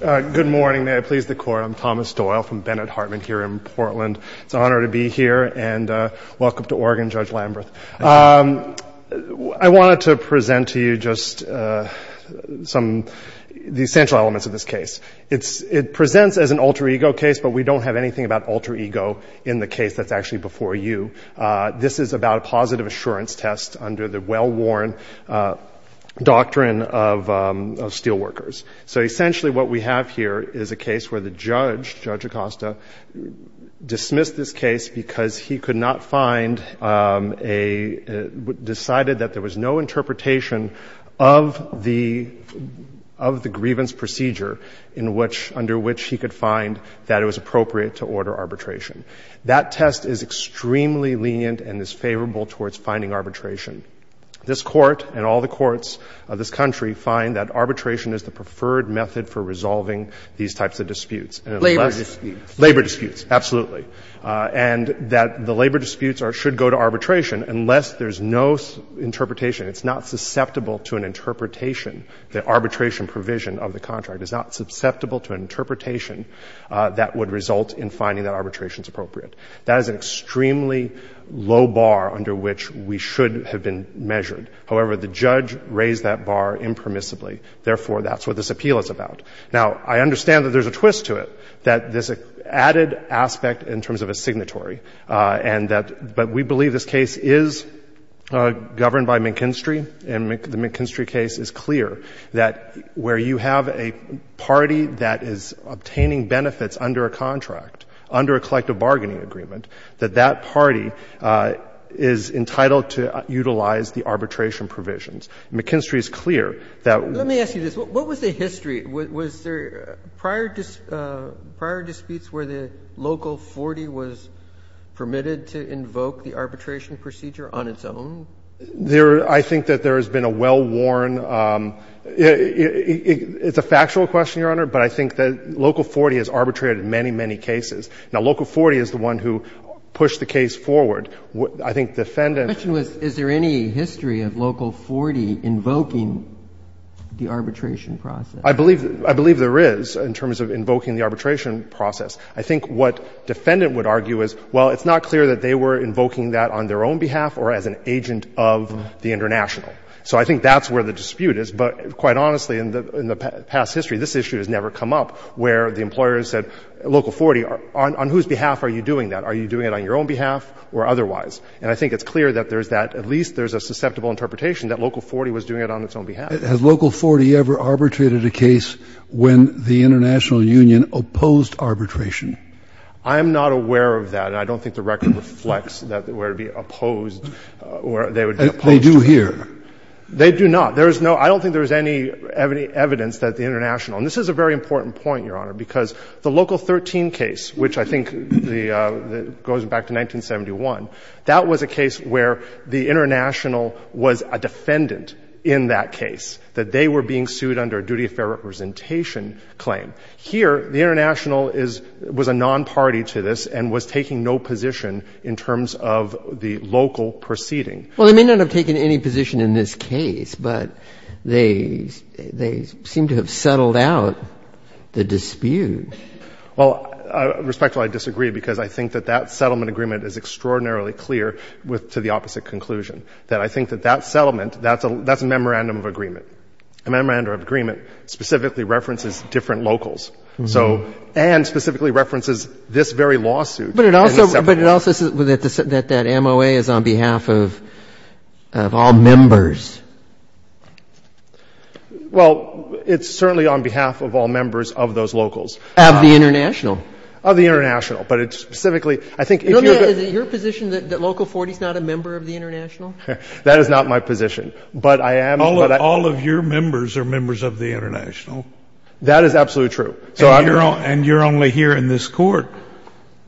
Good morning. May I please the Court? I'm Thomas Doyle from Bennett Hartman here in Portland. It's an honor to be here, and welcome to Oregon, Judge Lamberth. I wanted to present to you just some of the essential elements of this case. It presents as an alter ego case, but we don't have anything about alter ego in the case that's actually before you. This is about a positive assurance test under the well-worn doctrine of steelworkers. So essentially what we have here is a case where the judge, Judge Acosta, dismissed this case because he could not find a, decided that there was no interpretation of the, of the grievance procedure in which, under which he could find that it was appropriate to order arbitration. That test is extremely lenient and is favorable towards finding arbitration. This Court and all the courts of this country find that arbitration is the preferred method for resolving these types of disputes. Labor disputes. Labor disputes, absolutely. And that the labor disputes are, should go to arbitration unless there's no interpretation. It's not susceptible to an interpretation. The arbitration provision of the contract is not susceptible to an interpretation that would result in finding that arbitration is appropriate. That is an extremely low bar under which we should have been measured. However, the judge raised that bar impermissibly. Therefore, that's what this appeal is about. Now, I understand that there's a twist to it, that there's an added aspect in terms of a signatory, and that, but we believe this case is governed by McKinstry, and the McKinstry case is clear, that where you have a party that is obtaining benefits under a contract, under a collective bargaining agreement, that that party is entitled to utilize the arbitration provisions. McKinstry is clear that we need to use the arbitration provision. Roberts. Let me ask you this. What was the history? Was there prior disputes where the Local 40 was permitted to invoke the arbitration procedure on its own? There, I think that there has been a well-worn, it's a factual question, Your Honor, but I think that Local 40 has arbitrated many, many cases. Now, Local 40 is the one who pushed the case forward. I think Defendant. The question was, is there any history of Local 40 invoking the arbitration process? I believe there is in terms of invoking the arbitration process. I think what Defendant would argue is, well, it's not clear that they were invoking that on their own behalf or as an agent of the International. So I think that's where the dispute is. But quite honestly, in the past history, this issue has never come up where the employers said, Local 40, on whose behalf are you doing that? Are you doing it on your own behalf or otherwise? And I think it's clear that there's that. At least there's a susceptible interpretation that Local 40 was doing it on its own behalf. Has Local 40 ever arbitrated a case when the International Union opposed arbitration? I am not aware of that, and I don't think the record reflects that it would be opposed or they would be opposed. They do here. They do not. There is no – I don't think there is any evidence that the International – and this is a very important point, Your Honor, because the Local 13 case, which I think goes back to 1971, that was a case where the International was a defendant in that case, that they were being sued under a duty of fair representation claim. Here, the International is – was a nonparty to this and was taking no position in terms of the local proceeding. Well, they may not have taken any position in this case, but they seem to have settled out the dispute. Well, respectfully, I disagree because I think that that settlement agreement is extraordinarily clear with – to the opposite conclusion, that I think that that settlement, that's a memorandum of agreement. A memorandum of agreement specifically references different locals, so – and specifically references this very lawsuit. But it also – but it also says that that MOA is on behalf of all members. Well, it's certainly on behalf of all members of those locals. Of the International. Of the International. But it's specifically – I think if you're going to – Is it your position that Local 40 is not a member of the International? That is not my position. But I am – but I – All of your members are members of the International. That is absolutely true. And you're only here in this Court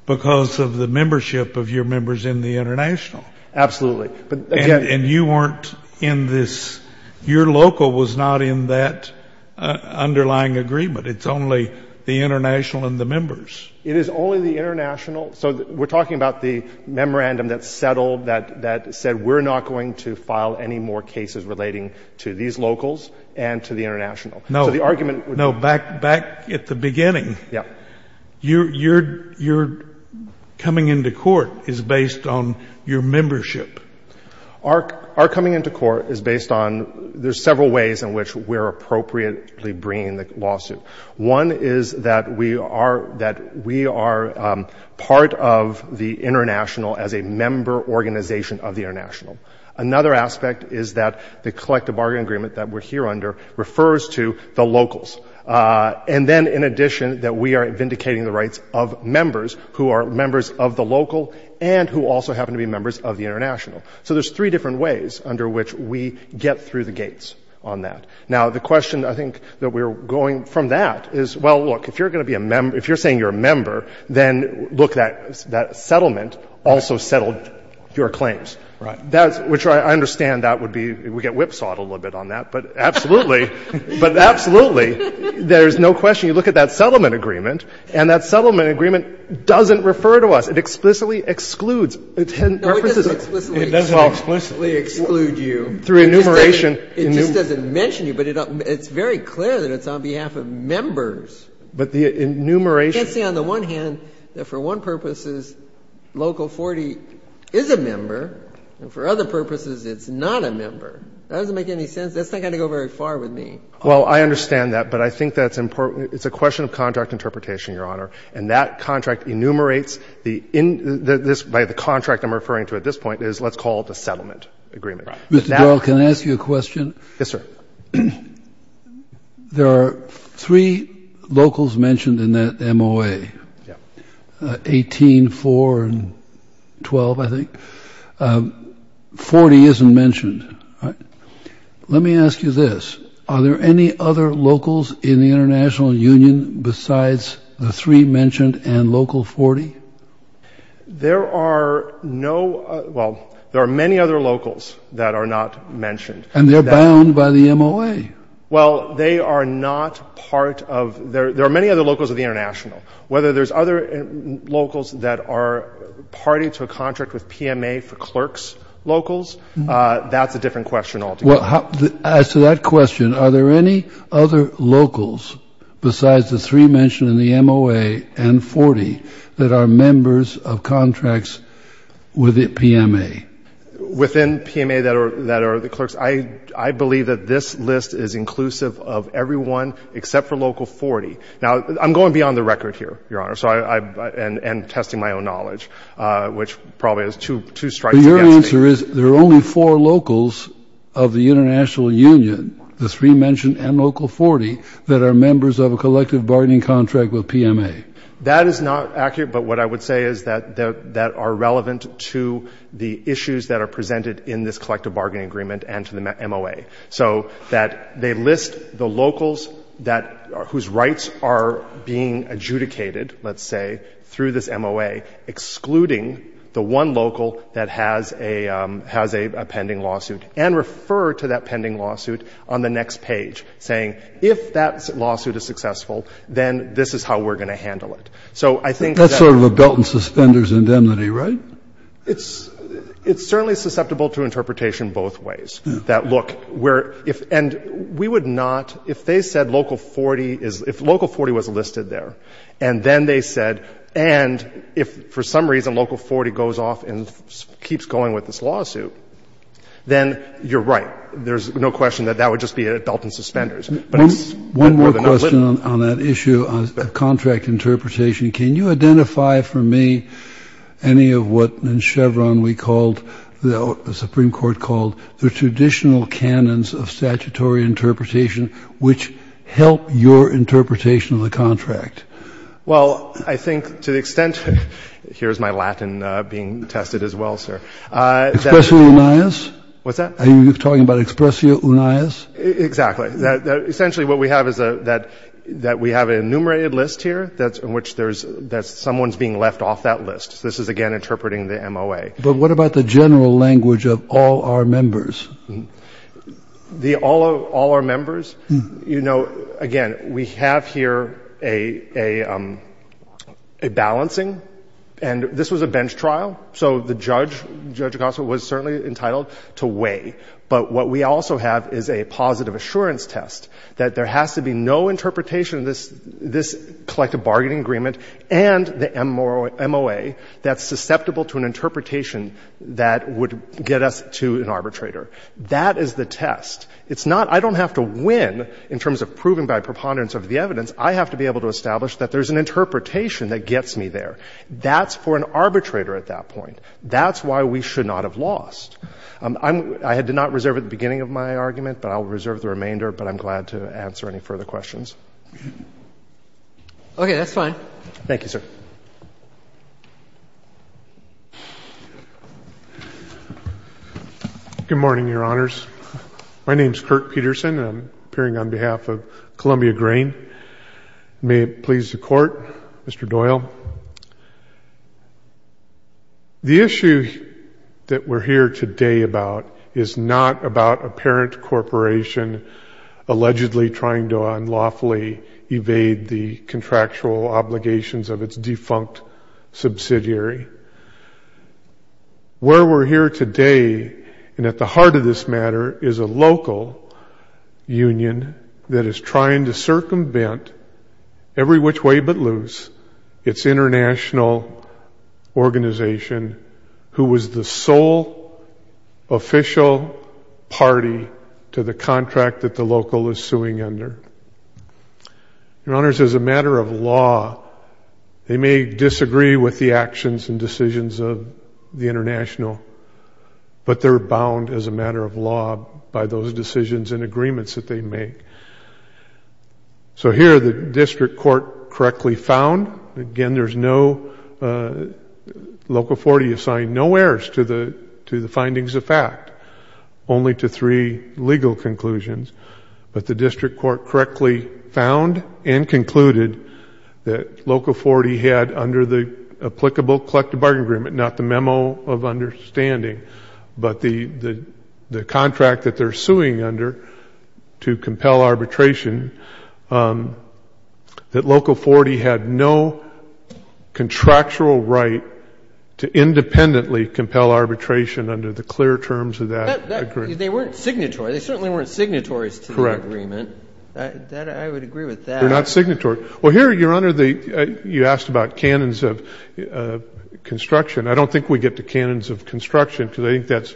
because of the membership of your members in the International. Absolutely. But again – And you weren't in this – your local was not in that underlying agreement. It's only the International and the members. It is only the International. So we're talking about the memorandum that settled, that said we're not going to file any more cases relating to these locals and to the International. No. So the argument would be – No. Back at the beginning, your coming into court is based on your membership. Our coming into court is based on – there's several ways in which we're appropriately bringing the lawsuit. One is that we are part of the International as a member organization of the International. Another aspect is that the collective bargaining agreement that we're here under refers to the locals. And then, in addition, that we are vindicating the rights of members who are members of the local and who also happen to be members of the International. So there's three different ways under which we get through the gates on that. Now, the question I think that we're going from that is, well, look, if you're going to be a – if you're saying you're a member, then look, that settlement also settled your claims. Right. That's – which I understand that would be – we get whipsawed a little bit on that. But absolutely. But absolutely, there's no question. You look at that settlement agreement, and that settlement agreement doesn't refer to us. It explicitly excludes. No, it doesn't explicitly exclude you. Through enumeration. It just doesn't mention you. But it's very clear that it's on behalf of members. But the enumeration – You can't say on the one hand that for one purposes Local 40 is a member, and for other purposes it's not a member. That doesn't make any sense. That's not going to go very far with me. Well, I understand that, but I think that's important. It's a question of contract interpretation, Your Honor. And that contract enumerates the – by the contract I'm referring to at this point is let's call it a settlement agreement. Right. Mr. Doyle, can I ask you a question? Yes, sir. There are three locals mentioned in that MOA. Yeah. 18, 4, and 12, I think. 40 isn't mentioned. Let me ask you this. Are there any other locals in the International Union besides the three mentioned and Local 40? There are no – well, there are many other locals that are not mentioned. And they're bound by the MOA. Well, they are not part of – there are many other locals of the International. Whether there's other locals that are party to a contract with PMA for clerks' locals, that's a different question altogether. Well, as to that question, are there any other locals besides the three mentioned in the MOA and 40 that are members of contracts with PMA? Within PMA that are the clerks, I believe that this list is inclusive of everyone except for Local 40. Now, I'm going beyond the record here, Your Honor, and testing my own knowledge, which probably is two strikes against me. The answer is there are only four locals of the International Union, the three mentioned and Local 40, that are members of a collective bargaining contract with PMA. That is not accurate, but what I would say is that they are relevant to the issues that are presented in this collective bargaining agreement and to the MOA, so that they list the locals whose rights are being adjudicated, let's say, through this MOA, excluding the one local that has a pending lawsuit, and refer to that pending lawsuit on the next page, saying, if that lawsuit is successful, then this is how we're going to handle it. So I think that's sort of a belt-and-suspenders indemnity, right? It's certainly susceptible to interpretation both ways. That, look, we're — and we would not — if they said Local 40 is — if Local 40 was listed there, and then they said, and if for some reason Local 40 goes off and keeps going with this lawsuit, then you're right. There's no question that that would just be a belt-and-suspenders. But it's more than a little. Kennedy. One more question on that issue of contract interpretation. Can you identify for me any of what in Chevron we called — the Supreme Court called the traditional canons of statutory interpretation which help your interpretation of the contract? Well, I think to the extent — here's my Latin being tested as well, sir. Expressio unias? What's that? Are you talking about expressio unias? Exactly. Essentially what we have is that we have an enumerated list here in which there's — that someone's being left off that list. This is, again, interpreting the MOA. But what about the general language of all our members? All our members? You know, again, we have here a balancing. And this was a bench trial. So the judge, Judge Acosta, was certainly entitled to weigh. But what we also have is a positive assurance test that there has to be no interpretation of this collective bargaining agreement and the MOA that's susceptible to an interpretation that would get us to an arbitrator. That is the test. It's not — I don't have to win in terms of proving by preponderance of the evidence. I have to be able to establish that there's an interpretation that gets me there. That's for an arbitrator at that point. That's why we should not have lost. I'm — I had to not reserve at the beginning of my argument, but I will reserve the remainder. But I'm glad to answer any further questions. Okay. That's fine. Thank you, sir. Good morning, Your Honors. My name's Kirk Peterson. I'm appearing on behalf of Columbia Grain. May it please the Court, Mr. Doyle. The issue that we're here today about is not about a parent corporation allegedly trying to unlawfully evade the contractual obligations of its defunct subsidiary. Where we're here today, and at the heart of this matter, is a local union that is trying to circumvent, every which way but loose, its international organization, who was the Your Honors, as a matter of law, they may disagree with the actions and decisions of the international, but they're bound as a matter of law by those decisions and agreements that they make. So here, the district court correctly found. Again, there's no — local authority assigned no errors to the findings of fact, only to three legal conclusions. But the district court correctly found and concluded that local authority had, under the applicable collective bargaining agreement, not the memo of understanding, but the contract that they're suing under to compel arbitration, that local authority had no contractual right to independently compel arbitration under the clear terms of that agreement. They weren't signatory. They certainly weren't signatories to the agreement. Correct. I would agree with that. They're not signatory. Well, here, Your Honor, you asked about canons of construction. I don't think we get to canons of construction, because I think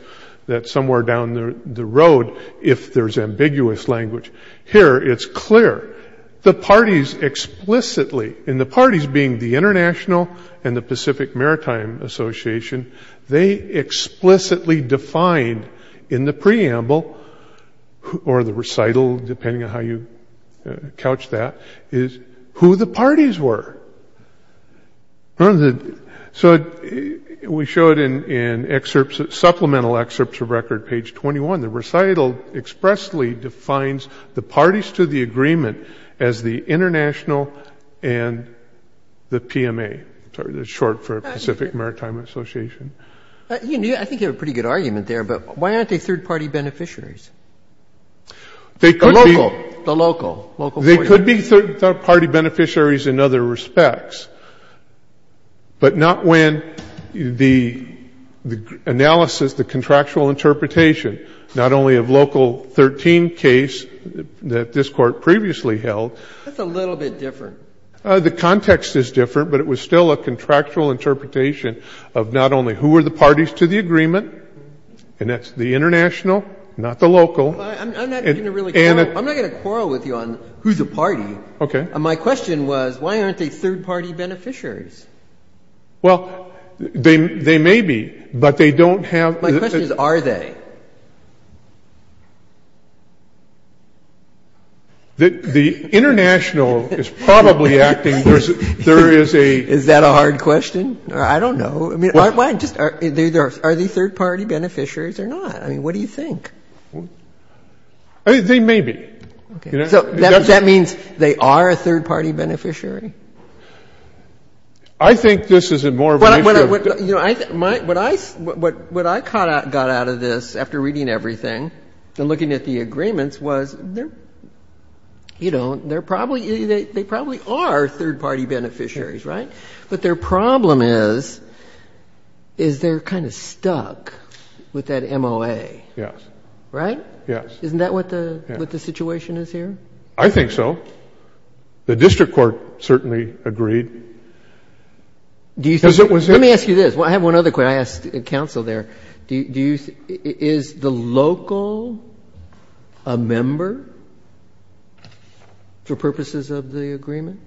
that's somewhere down the road, if there's ambiguous language. Here, it's clear. The parties explicitly — and the parties being the International and the Pacific Maritime Association, they explicitly defined in the preamble, or the recital, depending on how you couch that, is who the parties were. So we showed in supplemental excerpts of record, page 21, the recital expressly defines the I think you have a pretty good argument there, but why aren't they third-party beneficiaries? They could be. The local. The local. They could be third-party beneficiaries in other respects, but not when the analysis, the contractual interpretation, not only of Local 13 case that this Court previously held. That's a little bit different. The context is different, but it was still a contractual interpretation of not only who are the parties to the agreement, and that's the International, not the local. I'm not going to really quarrel. I'm not going to quarrel with you on who's a party. Okay. My question was, why aren't they third-party beneficiaries? Well, they may be, but they don't have — My question is, are they? The International is probably acting. There is a — Is that a hard question? I don't know. I mean, why just — are they third-party beneficiaries or not? I mean, what do you think? They may be. Okay. So that means they are a third-party beneficiary? I think this is more of a — What I kind of got out of this, after reading everything and looking at the agreements, was, you know, they probably are third-party beneficiaries, right? But their problem is, is they're kind of stuck with that MOA. Yes. Right? Yes. Isn't that what the situation is here? I think so. The district court certainly agreed. Let me ask you this. I have one other question. I asked counsel there. Is the local a member for purposes of the agreement?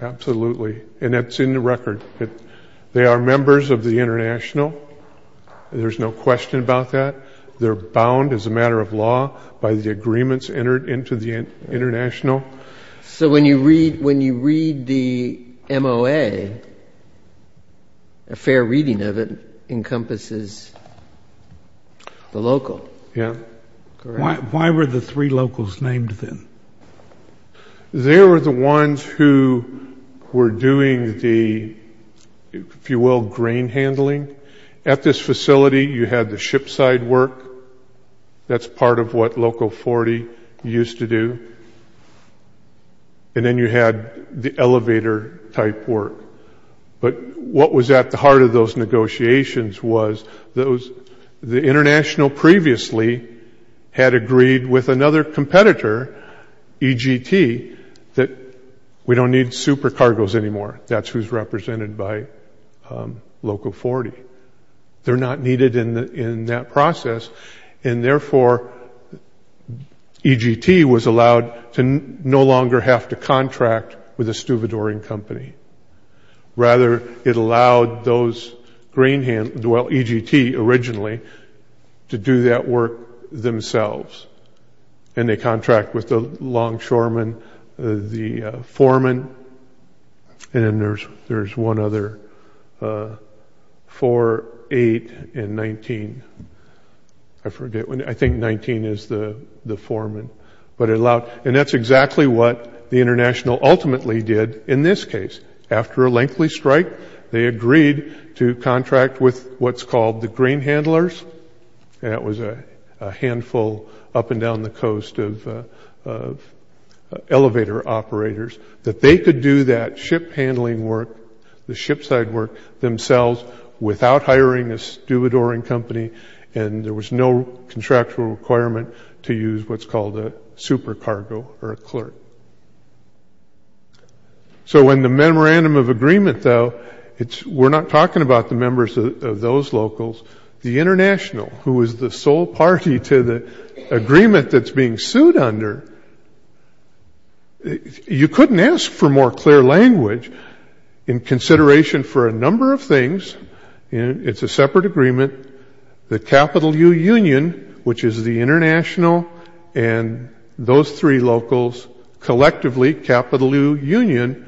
Absolutely. And that's in the record. They are members of the International. There's no question about that. They're bound, as a matter of law, by the agreements entered into the International. So when you read the MOA, a fair reading of it encompasses the local. Yes. Correct. Why were the three locals named then? They were the ones who were doing the, if you will, grain handling. At this facility, you had the ship-side work. That's part of what Local 40 used to do. And then you had the elevator-type work. But what was at the heart of those negotiations was the International previously had agreed with another competitor, EGT, that we don't need supercargoes anymore. That's who's represented by Local 40. They're not needed in that process. And, therefore, EGT was allowed to no longer have to contract with a stuvidoring company. Rather, it allowed those grain handlers, well, EGT originally, to do that work themselves. And they contract with the longshoremen, the foremen. And then there's one other, 4, 8, and 19. I forget. I think 19 is the foreman. And that's exactly what the International ultimately did in this case. After a lengthy strike, they agreed to contract with what's called the grain handlers. And that was a handful up and down the coast of elevator operators, that they could do that ship-handling work, the ship-side work, themselves without hiring a stuvidoring company. And there was no contractual requirement to use what's called a supercargo or a clerk. So in the memorandum of agreement, though, we're not talking about the members of those locals. The International, who is the sole party to the agreement that's being sued under, you couldn't ask for more clear language in consideration for a number of things. It's a separate agreement. The capital U Union, which is the International and those three locals collectively, capital U Union,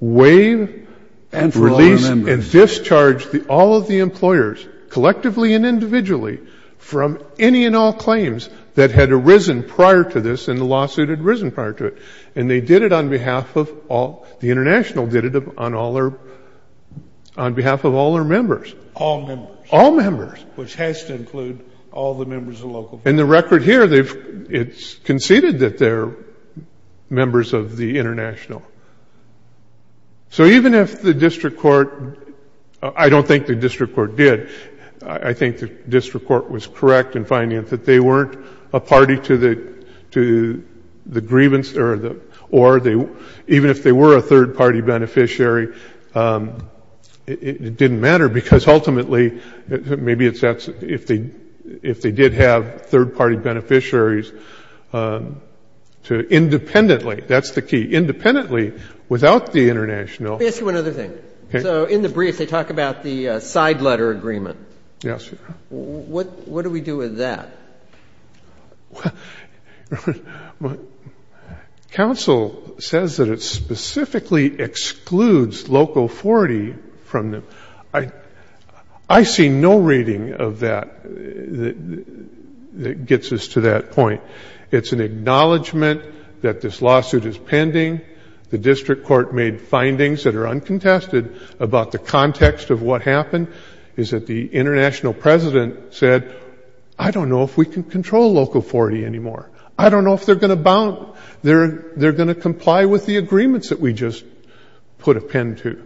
waived, released, and discharged all of the employers, collectively and individually, from any and all claims that had arisen prior to this and the lawsuit had arisen prior to it. And they did it on behalf of all, the International did it on behalf of all their members. All members. All members. Which has to include all the members of local. And the record here, it's conceded that they're members of the International. So even if the district court, I don't think the district court did, I think the district court was correct in finding that they weren't a party to the grievance, or even if they were a third-party beneficiary, it didn't matter, because ultimately, maybe it's that if they did have third-party beneficiaries, independently, that's the key, independently, without the International. Let me ask you one other thing. Okay. So in the brief, they talk about the side letter agreement. Yes. What do we do with that? Well, counsel says that it specifically excludes local authority from them. I see no reading of that that gets us to that point. It's an acknowledgment that this lawsuit is pending. The district court made findings that are uncontested about the context of what happened, is that the International president said, I don't know if we can control local authority anymore. I don't know if they're going to bound, they're going to comply with the agreements that we just put a pin to.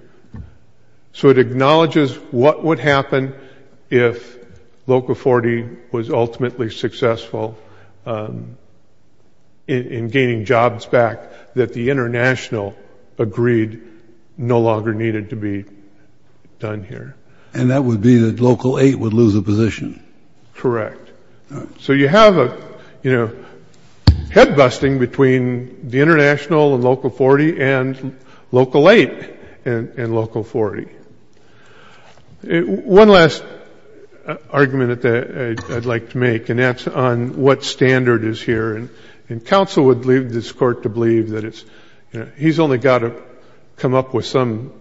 So it acknowledges what would happen if local authority was ultimately successful in gaining jobs back, that the International agreed no longer needed to be done here. And that would be that Local 8 would lose a position. Correct. So you have a head-busting between the International and Local 40 and Local 8. And Local 40. One last argument that I'd like to make, and that's on what standard is here. And counsel would leave this court to believe that he's only got to come up with some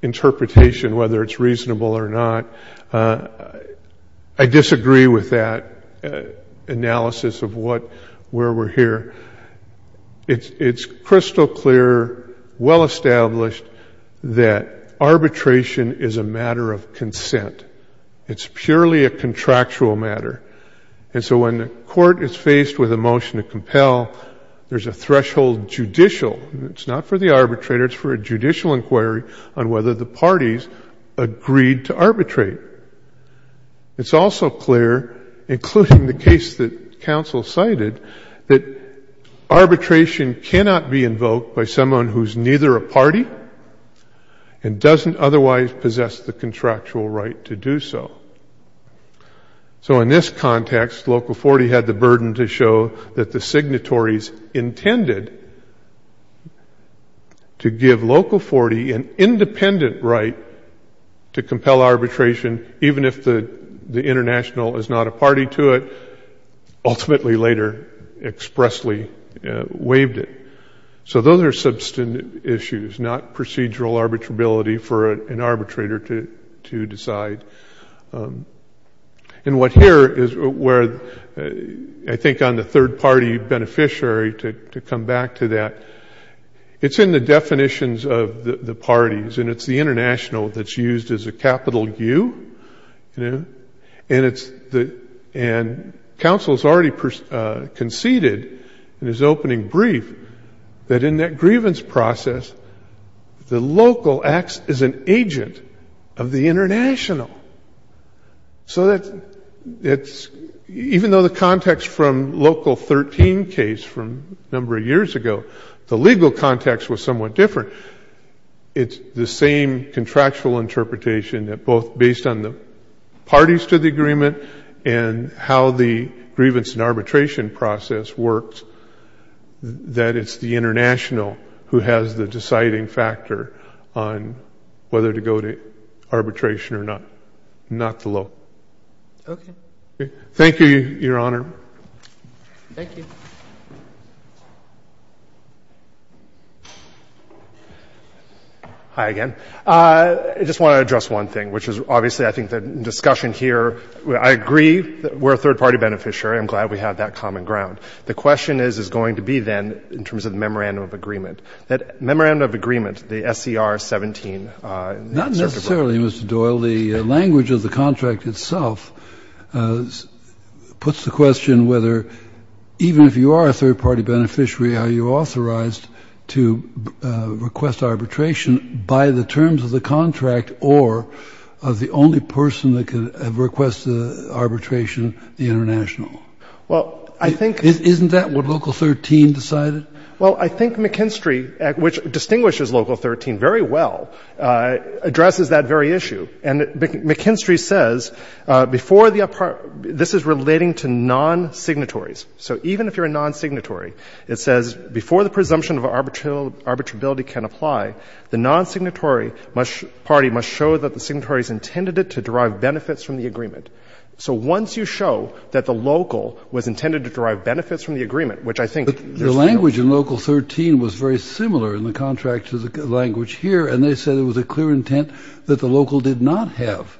interpretation, whether it's reasonable or not. I disagree with that analysis of where we're here. It's crystal clear, well established, that arbitration is a matter of consent. It's purely a contractual matter. And so when the court is faced with a motion to compel, there's a threshold judicial. It's not for the arbitrator, it's for a judicial inquiry on whether the parties agreed to arbitrate. It's also clear, including the case that counsel cited, that arbitration cannot be invoked by someone who's neither a party and doesn't otherwise possess the contractual right to do so. So in this context, Local 40 had the burden to show that the signatories intended to give Local 40 an independent right to compel arbitration, even if the International is not a party to it, ultimately later expressly waived it. So those are substantive issues, not procedural arbitrability for an arbitrator to decide. And what here is where I think on the third party beneficiary, to come back to that, it's in the definitions of the parties, and it's the International that's used as a capital U. And counsel has already conceded in his opening brief that in that grievance process, the Local acts as an agent of the International. So that it's, even though the context from Local 13 case from a number of years ago, the legal context was somewhat different. It's the same contractual interpretation that both based on the parties to the agreement and how the grievance and arbitration process works, that it's the International who has the deciding factor on whether to go to arbitration or not. Not the Local. Okay. Thank you, Your Honor. Thank you. Hi again. I just want to address one thing, which is obviously I think the discussion here, I agree that we're a third party beneficiary. I'm glad we have that common ground. The question is, is going to be then, in terms of the memorandum of agreement, that memorandum of agreement, the SCR 17. Not necessarily, Mr. Doyle. The language of the contract itself puts the question whether, even if you are a third party beneficiary, are you authorized to request arbitration by the terms of the contract or of the only person that could request arbitration, the International? Well, I think — Isn't that what Local 13 decided? Well, I think McKinstry, which distinguishes Local 13 very well, addresses that very issue. And McKinstry says before the — this is relating to non-signatories. So even if you're a non-signatory, it says before the presumption of arbitrability can apply, the non-signatory party must show that the signatory has intended it to derive benefits from the agreement. So once you show that the local was intended to derive benefits from the agreement, which I think there's no — But the language in Local 13 was very similar in the contract to the language here, and they said it was a clear intent that the local did not have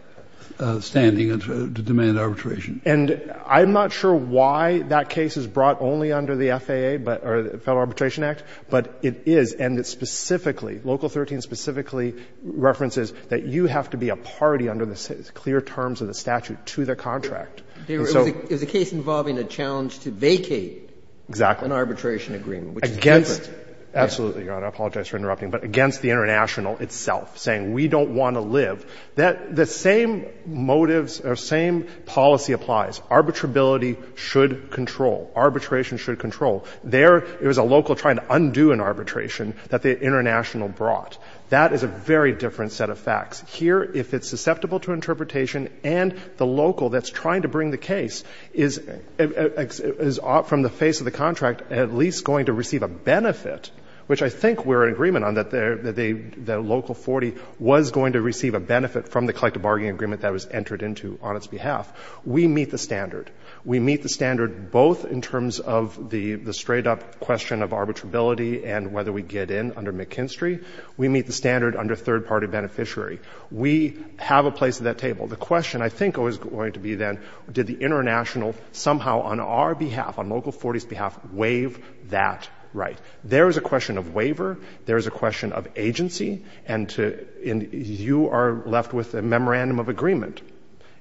standing to demand arbitration. And I'm not sure why that case is brought only under the FAA, or the Federal Arbitration Act, but it is. And it specifically, Local 13 specifically, references that you have to be a party under the clear terms of the statute to the contract. And so — It was a case involving a challenge to vacate — Exactly. — an arbitration agreement, which is different. Absolutely, Your Honor. I apologize for interrupting. But against the international itself, saying we don't want to live, that the same motives or same policy applies. Arbitrability should control. Arbitration should control. There, it was a local trying to undo an arbitration that the international brought. That is a very different set of facts. Here, if it's susceptible to interpretation and the local that's trying to bring the case is, from the face of the contract, at least going to receive a benefit, which I think we're in agreement on, that the local 40 was going to receive a benefit from the collective bargaining agreement that was entered into on its behalf. We meet the standard. We meet the standard both in terms of the straight-up question of arbitrability and whether we get in under McKinstry. We meet the standard under third-party beneficiary. We have a place at that table. The question, I think, is going to be then, did the international somehow on our behalf, on local 40's behalf, waive that right? There is a question of waiver. There is a question of agency. And you are left with a memorandum of agreement.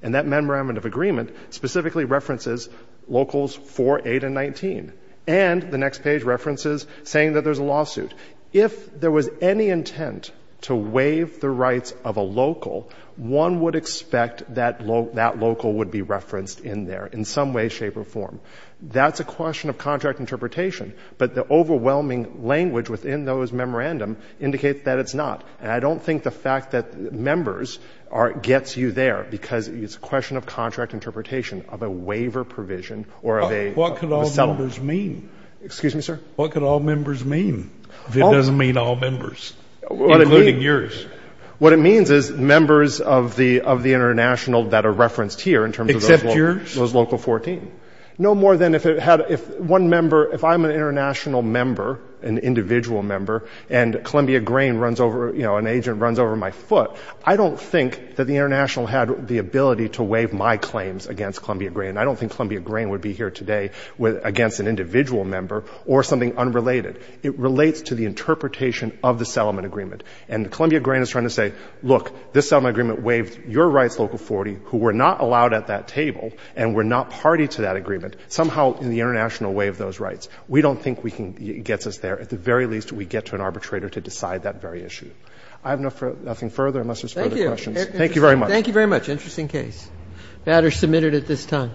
And that memorandum of agreement specifically references locals 4, 8, and 19. And the next page references saying that there's a lawsuit. If there was any intent to waive the rights of a local, one would expect that local would be referenced in there in some way, shape, or form. That's a question of contract interpretation. But the overwhelming language within those memorandums indicates that it's not. And I don't think the fact that members are gets you there because it's a question of contract interpretation of a waiver provision or of a settlement. Excuse me, sir? What could all members mean if it doesn't mean all members, including yours? What it means is members of the international that are referenced here in terms of those local 14. Except yours? No more than if it had, if one member, if I'm an international member, an individual member, and Columbia Grain runs over, you know, an agent runs over my foot, I don't think that the international had the ability to waive my claims against Columbia Grain. I don't think Columbia Grain would be here today against an individual member or something unrelated. It relates to the interpretation of the settlement agreement. And Columbia Grain is trying to say, look, this settlement agreement waived your rights, local 40, who were not allowed at that table and were not party to that agreement, somehow in the international way of those rights. We don't think it gets us there. At the very least, we get to an arbitrator to decide that very issue. I have nothing further unless there's further questions. Thank you. Thank you very much. Thank you very much. Interesting case. The matter is submitted at this time.